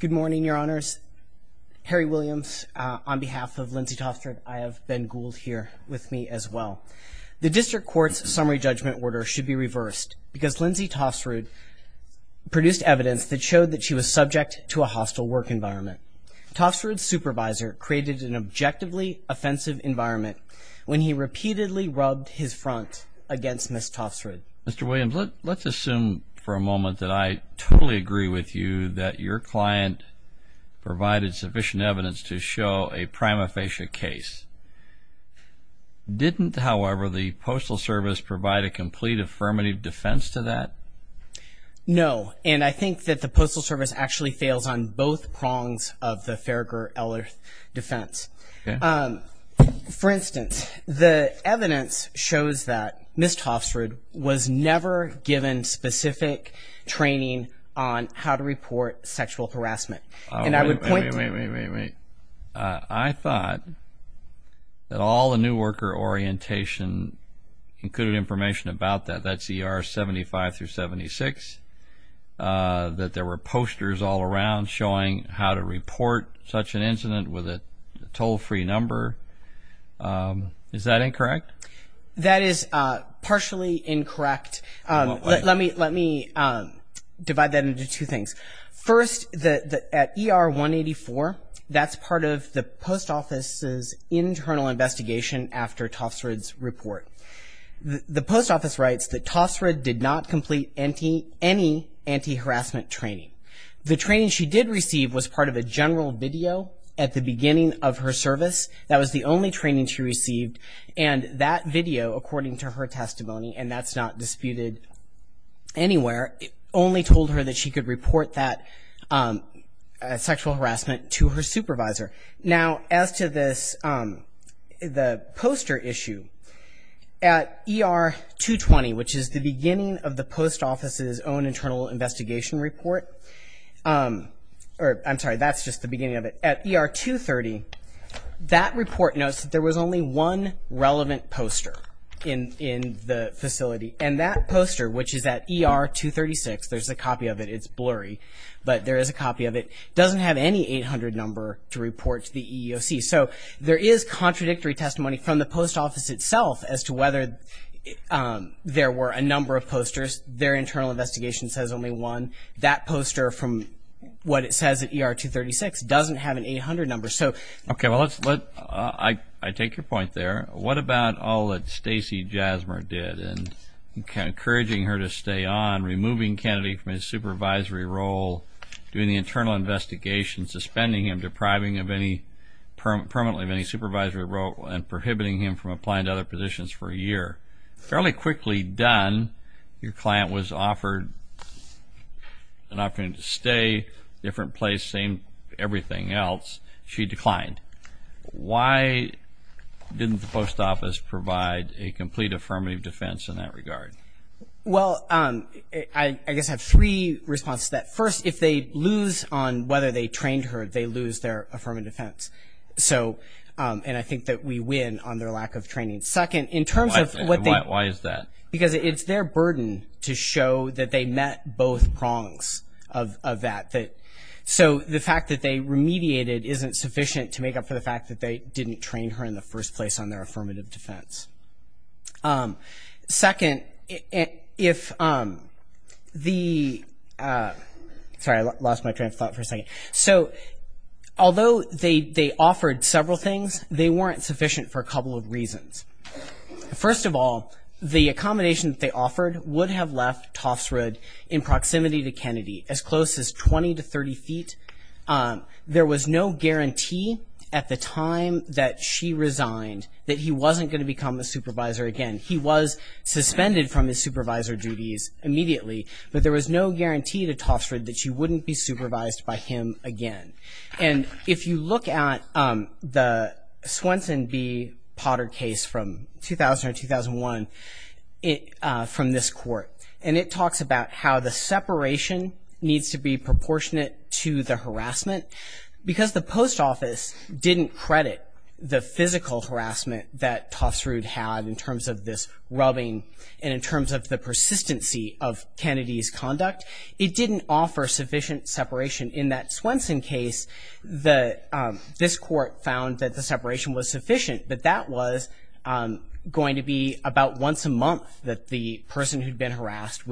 Good morning, your honors. Harry Williams, on behalf of Lindsay Tofsrud, I have Ben Gould here with me as well. The district court's summary judgment order should be reversed because Lindsay Tofsrud produced evidence that showed that she was subject to a hostile work environment. Tofsrud's supervisor created an objectively offensive environment when he repeatedly rubbed his front against Ms. Tofsrud. Mr. Williams, let's assume for a moment that I totally agree with you that your client provided sufficient evidence to show a prima facie case. Didn't, however, the Postal Service provide a complete affirmative defense to that? No, and I think that the Postal Service actually fails on both prongs of the Farragher-Ellis defense. For instance, the evidence shows that Ms. Tofsrud was never given specific training on how to report sexual harassment. Wait, wait, wait. I thought that all the New Worker Orientation included information about that. That's ER 75 through 76, that there were posters all around showing how to report such an incident with a toll-free number. Is that incorrect? That is partially incorrect. Let me divide that into two things. First, at ER 184, that's part of the Post Office's internal investigation after Tofsrud's report. The Post Office writes that Tofsrud did not complete any anti-harassment training. The training she did receive was part of a general video at the beginning of her service. That was the only training she received, and that video, according to her testimony, and that's not disputed anywhere, only told her that she could report that sexual harassment to her supervisor. Now, as to this, the poster issue, at ER 220, which is the beginning of the Post Office's own internal investigation report, or I'm sorry, that's just the beginning of it, at ER 230, that report notes that there was only one relevant poster in the facility, and that poster, which is at ER 236, there's a copy of it, it's blurry, but there is a copy of it, doesn't have any 800 number to report to the EEOC. So there is contradictory testimony from the Post Office itself as to whether there were a number of posters. Their internal investigation says only one. That poster from what it says at ER 236 doesn't have an 800 number. Okay, well, I take your point there. What about all that Stacey Jasmer did in encouraging her to stay on, removing Kennedy from his supervisory role, doing the internal investigation, suspending him, depriving him permanently of any supervisory role, and prohibiting him from applying to other positions for a year? Fairly quickly done, your client was offered an opportunity to stay, different place, same everything else. She declined. Why didn't the Post Office provide a complete affirmative defense in that regard? Well, I guess I have three responses to that. First, if they lose on whether they trained her, they lose their affirmative defense. And I think that we win on their lack of training. Why is that? Because it's their burden to show that they met both prongs of that. So the fact that they remediated isn't sufficient to make up for the fact that they didn't train her in the first place on their affirmative defense. Second, if the – sorry, I lost my train of thought for a second. So although they offered several things, they weren't sufficient for a couple of reasons. First of all, the accommodation that they offered would have left Tofsrud in proximity to Kennedy, as close as 20 to 30 feet. There was no guarantee at the time that she resigned that he wasn't going to become a supervisor again. He was suspended from his supervisor duties immediately, but there was no guarantee to Tofsrud that she wouldn't be supervised by him again. And if you look at the Swenson v. Potter case from 2000 or 2001 from this court, and it talks about how the separation needs to be proportionate to the harassment because the post office didn't credit the physical harassment that Tofsrud had in terms of this rubbing and in terms of the persistency of Kennedy's conduct. It didn't offer sufficient separation in that Swenson case. This court found that the separation was sufficient, but that was going to be about once a month that the person who'd been harassed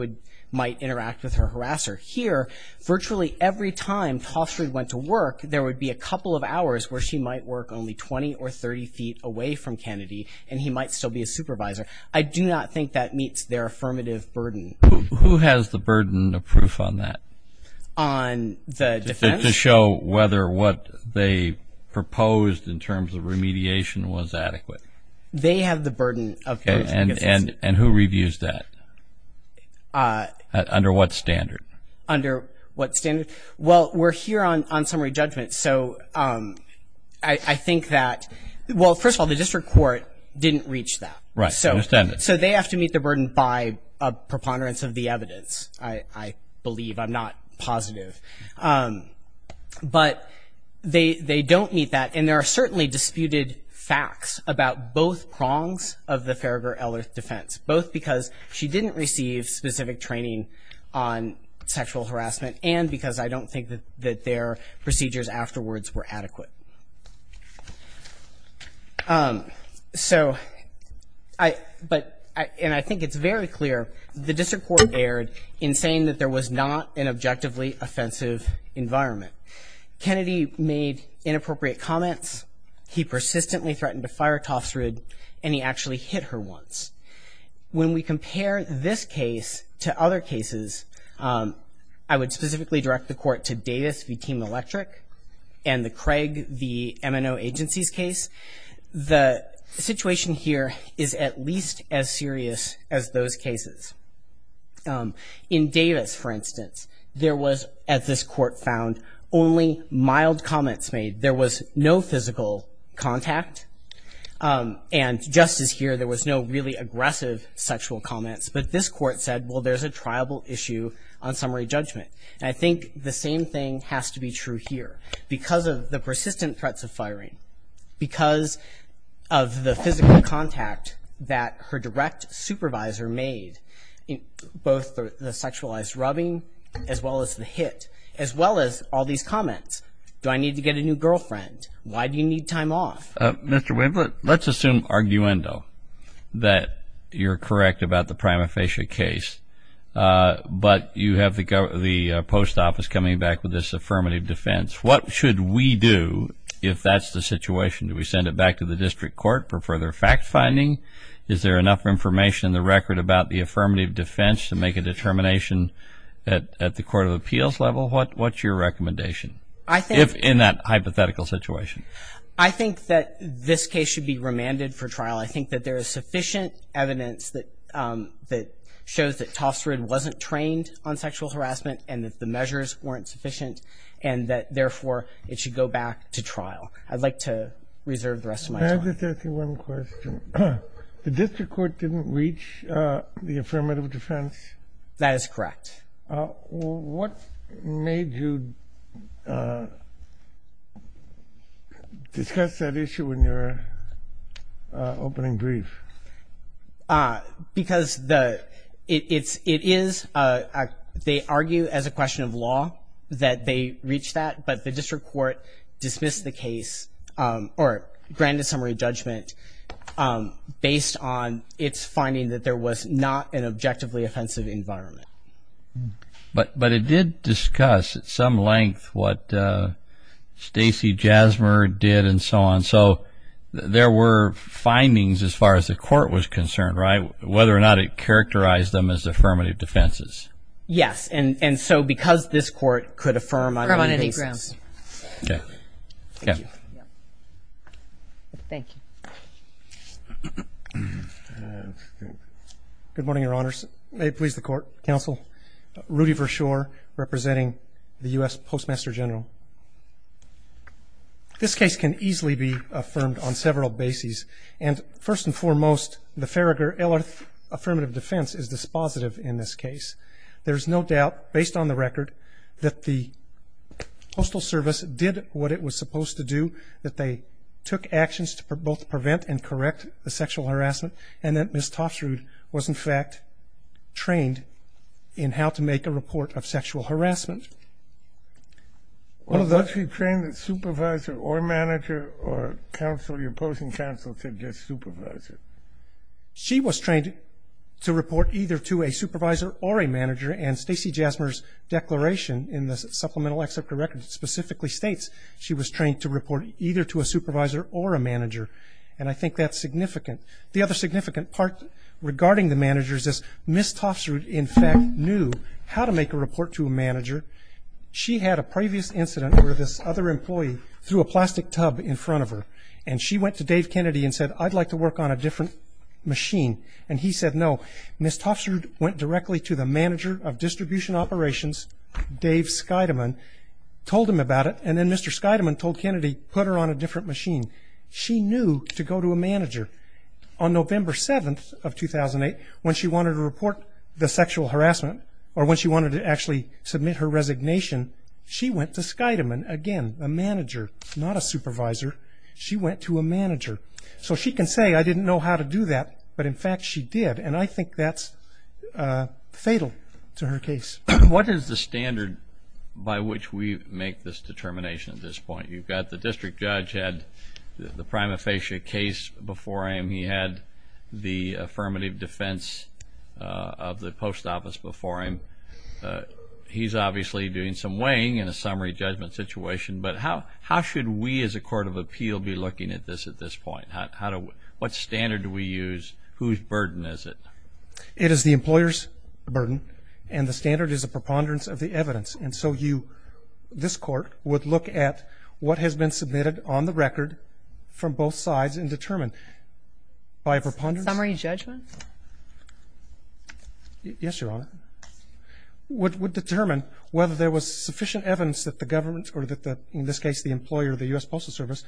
might interact with her harasser. Here, virtually every time Tofsrud went to work, there would be a couple of hours where she might work only 20 or 30 feet away from Kennedy, and he might still be a supervisor. I do not think that meets their affirmative burden. Who has the burden of proof on that? On the defense? To show whether what they proposed in terms of remediation was adequate. They have the burden of proof. And who reviews that? Under what standard? Under what standard? Well, we're here on summary judgment, so I think that, well, first of all, the district court didn't reach that. Right, I understand that. So they have to meet the burden by a preponderance of the evidence, I believe. I'm not positive. But they don't meet that, and there are certainly disputed facts about both prongs of the Farragher-Ellert defense, both because she didn't receive specific training on sexual harassment and because I don't think that their procedures afterwards were adequate. So, and I think it's very clear, the district court erred in saying that there was not an objectively offensive environment. Kennedy made inappropriate comments. He persistently threatened to fire Tofsrud, and he actually hit her once. When we compare this case to other cases, I would specifically direct the court to Davis v. Team Electric and the Craig v. M&O Agencies case. The situation here is at least as serious as those cases. In Davis, for instance, there was, as this court found, only mild comments made. There was no physical contact. And just as here, there was no really aggressive sexual comments. But this court said, well, there's a triable issue on summary judgment. And I think the same thing has to be true here. Because of the persistent threats of firing, because of the physical contact that her direct supervisor made, both the sexualized rubbing as well as the hit, as well as all these comments, do I need to get a new girlfriend? Why do you need time off? Mr. Winkler, let's assume arguendo, that you're correct about the prima facie case, but you have the post office coming back with this affirmative defense. What should we do if that's the situation? Do we send it back to the district court for further fact-finding? Is there enough information in the record about the affirmative defense to make a determination at the court of appeals level? What's your recommendation in that hypothetical situation? I think that this case should be remanded for trial. I think that there is sufficient evidence that shows that Tofsred wasn't trained on sexual harassment and that the measures weren't sufficient and that, therefore, it should go back to trial. I'd like to reserve the rest of my time. May I just ask you one question? The district court didn't reach the affirmative defense? That is correct. What made you discuss that issue in your opening brief? Because it is, they argue as a question of law that they reached that, but the district court dismissed the case or granted summary judgment based on its finding that there was not an objectively offensive environment. But it did discuss at some length what Stacey Jasmer did and so on, so there were findings as far as the court was concerned, right, whether or not it characterized them as affirmative defenses. Yes, and so because this court could affirm on any basis. Okay. Thank you. Good morning, Your Honors. May it please the court, counsel. Rudy Vershoor, representing the U.S. Postmaster General. This case can easily be affirmed on several bases, and first and foremost, the Farragher-Ellert affirmative defense is dispositive in this case. There is no doubt, based on the record, that the Postal Service did what it was supposed to do that they took actions to both prevent and correct the sexual harassment, and that Ms. Tofsrud was, in fact, trained in how to make a report of sexual harassment. Was she trained as supervisor or manager or counsel, your opposing counsel said just supervisor? She was trained to report either to a supervisor or a manager, and Stacey Jasmer's declaration in the supplemental excerpt of the record specifically states she was trained to report either to a supervisor or a manager, and I think that's significant. The other significant part regarding the managers is Ms. Tofsrud, in fact, knew how to make a report to a manager. She had a previous incident where this other employee threw a plastic tub in front of her, and she went to Dave Kennedy and said, I'd like to work on a different machine, and he said no. Ms. Tofsrud went directly to the manager of distribution operations, Dave Scheidemann, told him about it, and then Mr. Scheidemann told Kennedy, put her on a different machine. She knew to go to a manager. On November 7th of 2008, when she wanted to report the sexual harassment or when she wanted to actually submit her resignation, she went to Scheidemann, again a manager, not a supervisor. She went to a manager. So she can say, I didn't know how to do that, but in fact she did, and I think that's fatal to her case. What is the standard by which we make this determination at this point? You've got the district judge had the prima facie case before him. He had the affirmative defense of the post office before him. He's obviously doing some weighing in a summary judgment situation, but how should we as a court of appeal be looking at this at this point? What standard do we use? Whose burden is it? It is the employer's burden, and the standard is a preponderance of the evidence. And so you, this court, would look at what has been submitted on the record from both sides and determine by a preponderance. Summary judgment? Yes, Your Honor. Would determine whether there was sufficient evidence that the government, or in this case the employer, the U.S. Postal Service,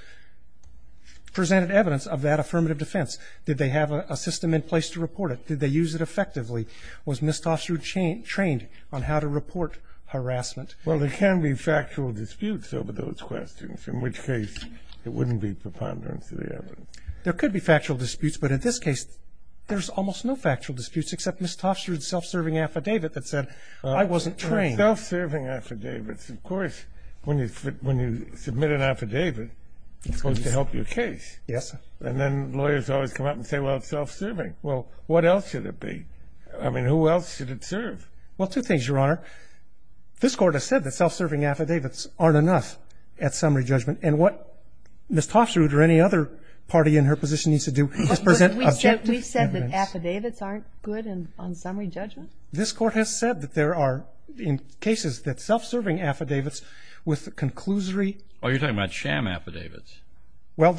presented evidence of that affirmative defense. Did they have a system in place to report it? Did they use it effectively? Was Ms. Tofstrud trained on how to report harassment? Well, there can be factual disputes over those questions, in which case it wouldn't be preponderance of the evidence. There could be factual disputes, but in this case there's almost no factual disputes except Ms. Tofstrud's self-serving affidavit that said I wasn't trained. Self-serving affidavits. Of course, when you submit an affidavit, it's supposed to help your case. Yes, sir. And then lawyers always come up and say, well, it's self-serving. Well, what else should it be? I mean, who else should it serve? Well, two things, Your Honor. This Court has said that self-serving affidavits aren't enough at summary judgment, and what Ms. Tofstrud or any other party in her position needs to do is present objective evidence. We've said that affidavits aren't good on summary judgment? This Court has said that there are, in cases, that self-serving affidavits with the conclusory. Oh, you're talking about sham affidavits. Well,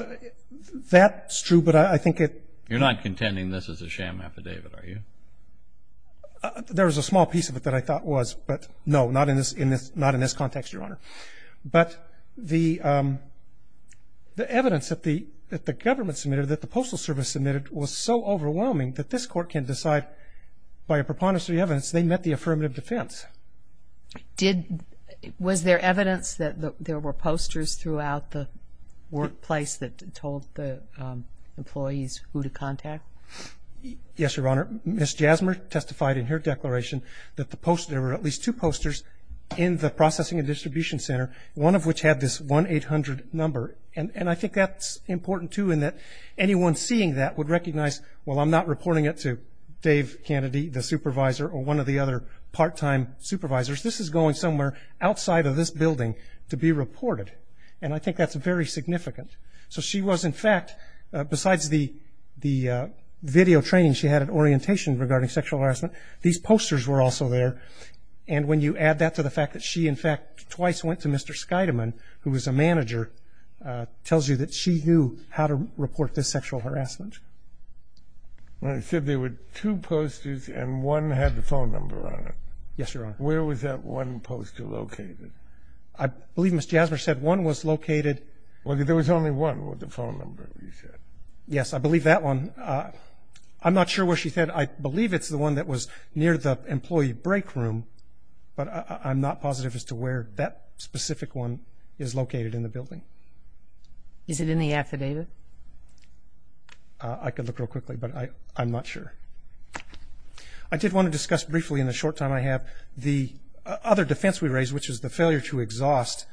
that's true, but I think it You're not contending this is a sham affidavit, are you? There is a small piece of it that I thought was, but no, not in this context, Your Honor. But the evidence that the government submitted, that the Postal Service submitted, was so overwhelming that this Court can't decide by a preponderance of the evidence they met the affirmative defense. Was there evidence that there were posters throughout the workplace that told the employees who to contact? Yes, Your Honor. Ms. Jasmer testified in her declaration that there were at least two posters in the Processing and Distribution Center, one of which had this 1-800 number. And I think that's important, too, in that anyone seeing that would recognize, well, I'm not reporting it to Dave Kennedy, the supervisor, or one of the other part-time supervisors. This is going somewhere outside of this building to be reported. And I think that's very significant. So she was, in fact, besides the video training she had at Orientation regarding sexual harassment, these posters were also there. And when you add that to the fact that she, in fact, twice went to Mr. Kennedy, it tells you that she knew how to report this sexual harassment. Well, it said there were two posters and one had the phone number on it. Yes, Your Honor. Where was that one poster located? I believe Ms. Jasmer said one was located. Well, there was only one with the phone number, you said. Yes, I believe that one. I'm not sure where she said. I believe it's the one that was near the employee break room, but I'm not positive as to where that specific one is located in the building. Is it in the affidavit? I could look real quickly, but I'm not sure. I did want to discuss briefly in the short time I have the other defense we raised, which is the failure to exhaust.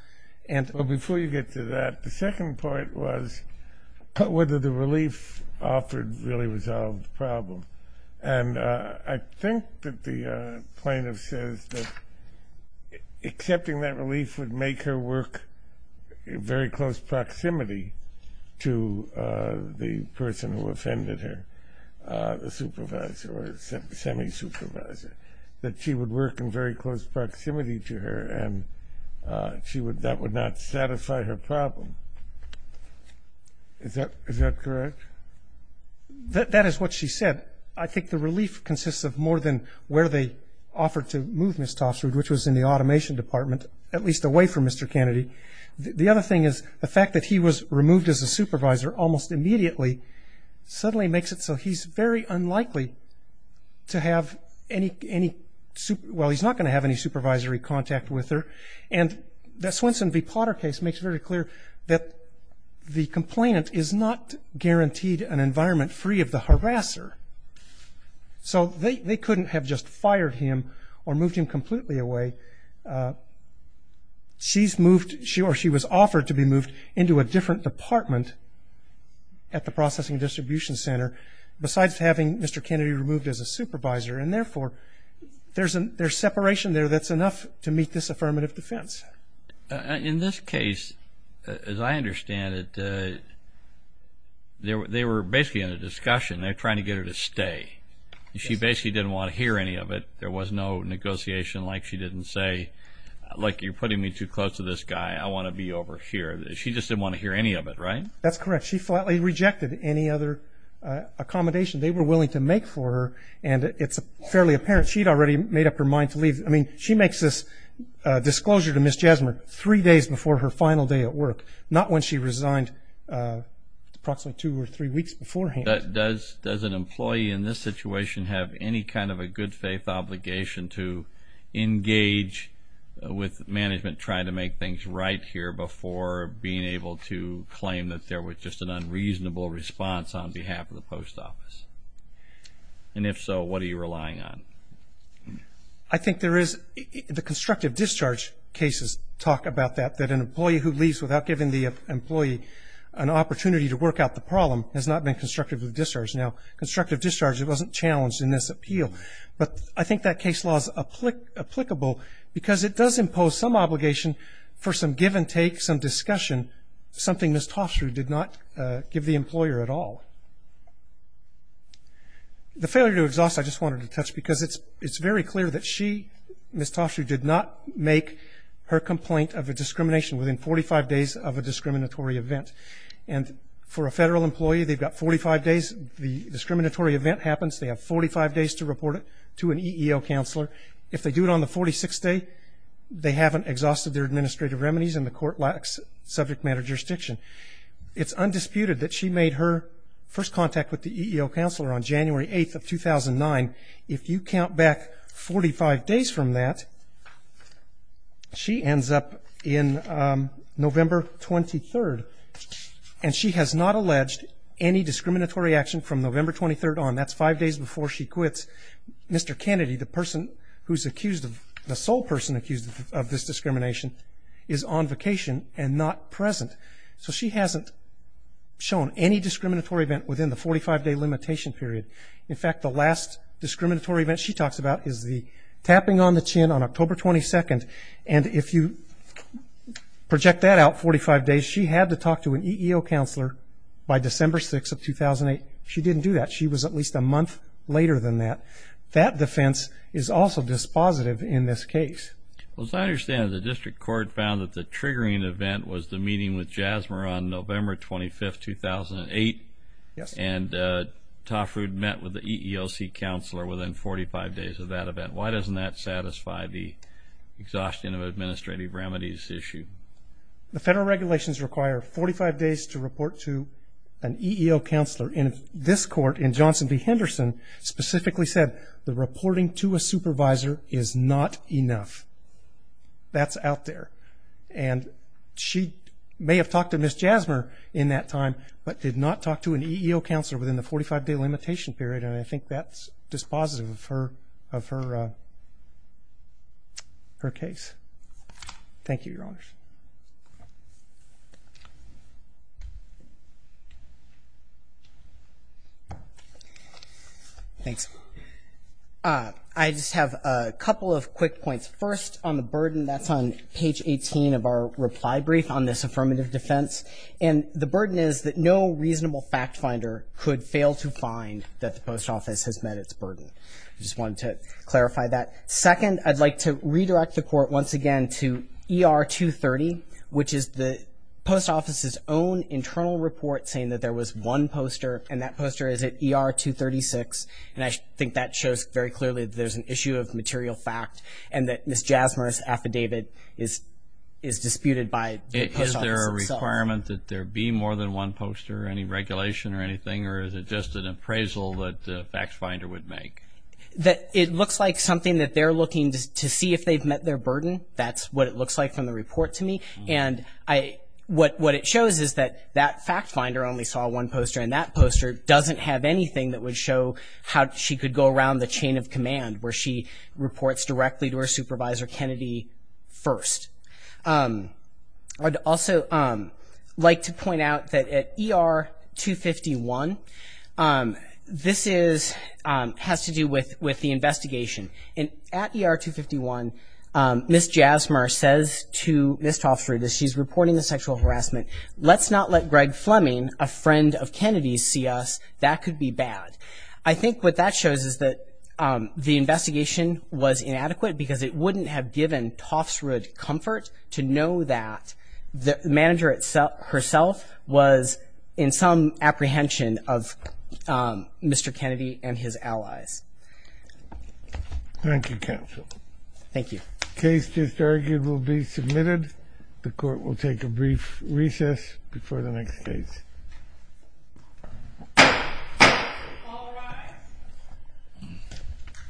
Before you get to that, the second part was whether the relief offered really resolved the problem. I think that the plaintiff says that accepting that relief would make her work in very close proximity to the person who offended her, the supervisor or semi-supervisor, that she would work in very close proximity to her and that would not satisfy her problem. Is that correct? That is what she said. I think the relief consists of more than where they offered to move Ms. Tofsrud, which was in the automation department, at least away from Mr. Kennedy. The other thing is the fact that he was removed as a supervisor almost immediately suddenly makes it so he's very unlikely to have any – well, he's not going to have any supervisory contact with her. And the Swenson v. Potter case makes it very clear that the complainant is not guaranteed an environment free of the harasser. So they couldn't have just fired him or moved him completely away. She was offered to be moved into a different department at the processing distribution center besides having Mr. Kennedy removed as a supervisor. And, therefore, there's separation there that's enough to meet this affirmative defense. In this case, as I understand it, they were basically in a discussion. They're trying to get her to stay. She basically didn't want to hear any of it. There was no negotiation like she didn't say, like, you're putting me too close to this guy. I want to be over here. She just didn't want to hear any of it, right? That's correct. She flatly rejected any other accommodation they were willing to make for her. And it's fairly apparent she had already made up her mind to leave. I mean, she makes this disclosure to Ms. Jasmer three days before her final day at work, not when she resigned approximately two or three weeks beforehand. Does an employee in this situation have any kind of a good faith obligation to engage with management trying to make things right here before being able to claim that there was just an unreasonable response on behalf of the post office? And, if so, what are you relying on? I think there is the constructive discharge cases talk about that, that an employee who leaves without giving the employee an opportunity to work out the problem has not been constructive with discharge. Now, constructive discharge, it wasn't challenged in this appeal. But I think that case law is applicable because it does impose some obligation for some give and take, some discussion, something Ms. Toffs drew did not give the employer at all. The failure to exhaust, I just wanted to touch, because it's very clear that she, Ms. Toffs, who did not make her complaint of a discrimination within 45 days of a discriminatory event. And for a federal employee, they've got 45 days. The discriminatory event happens. They have 45 days to report it to an EEO counselor. If they do it on the 46th day, they haven't exhausted their administrative remedies and the court lacks subject matter jurisdiction. It's undisputed that she made her first contact with the EEO counselor on January 8th of 2009. If you count back 45 days from that, she ends up in November 23rd. And she has not alleged any discriminatory action from November 23rd on. That's five days before she quits. Mr. Kennedy, the person who's accused of, the sole person accused of this discrimination, is on vacation and not present. So she hasn't shown any discriminatory event within the 45-day limitation period. In fact, the last discriminatory event she talks about is the tapping on the chin on October 22nd. And if you project that out 45 days, she had to talk to an EEO counselor by December 6th of 2008. She didn't do that. She was at least a month later than that. That defense is also dispositive in this case. Well, as I understand it, the district court found that the triggering event was the meeting with Jasmer on November 25th, 2008. Yes. And Toffred met with the EEOC counselor within 45 days of that event. Why doesn't that satisfy the exhaustion of administrative remedies issue? The federal regulations require 45 days to report to an EEO counselor. And this court in Johnson v. Henderson specifically said the reporting to a supervisor is not enough. That's out there. And she may have talked to Ms. Jasmer in that time, but did not talk to an EEO counselor within the 45-day limitation period. And I think that's dispositive of her case. Thank you, Your Honors. Thanks. I just have a couple of quick points. First, on the burden, that's on page 18 of our reply brief on this affirmative defense. And the burden is that no reasonable fact finder could fail to find that the post office has met its burden. I just wanted to clarify that. Second, I'd like to redirect the court once again to ER 230, which is the post office's own internal report saying that there was one poster, and that poster is at ER 236. And I think that shows very clearly that there's an issue of material fact and that Ms. Jasmer's affidavit is disputed by the post office itself. Is there a requirement that there be more than one poster, any regulation or anything, or is it just an appraisal that a fact finder would make? It looks like something that they're looking to see if they've met their burden. That's what it looks like from the report to me. And what it shows is that that fact finder only saw one poster, and that poster doesn't have anything that would show how she could go around the chain of command where she reports directly to her supervisor, Kennedy, first. I'd also like to point out that at ER 251, this has to do with the investigation. At ER 251, Ms. Jasmer says to Ms. Toffs-Rudis, she's reporting the sexual harassment, let's not let Greg Fleming, a friend of Kennedy's, see us. That could be bad. I think what that shows is that the investigation was inadequate because it wouldn't have given Toffs-Rudis comfort to know that the manager herself was in some apprehension of Mr. Kennedy and his allies. Thank you, counsel. Thank you. The case just argued will be submitted. The court will take a brief recess before the next case.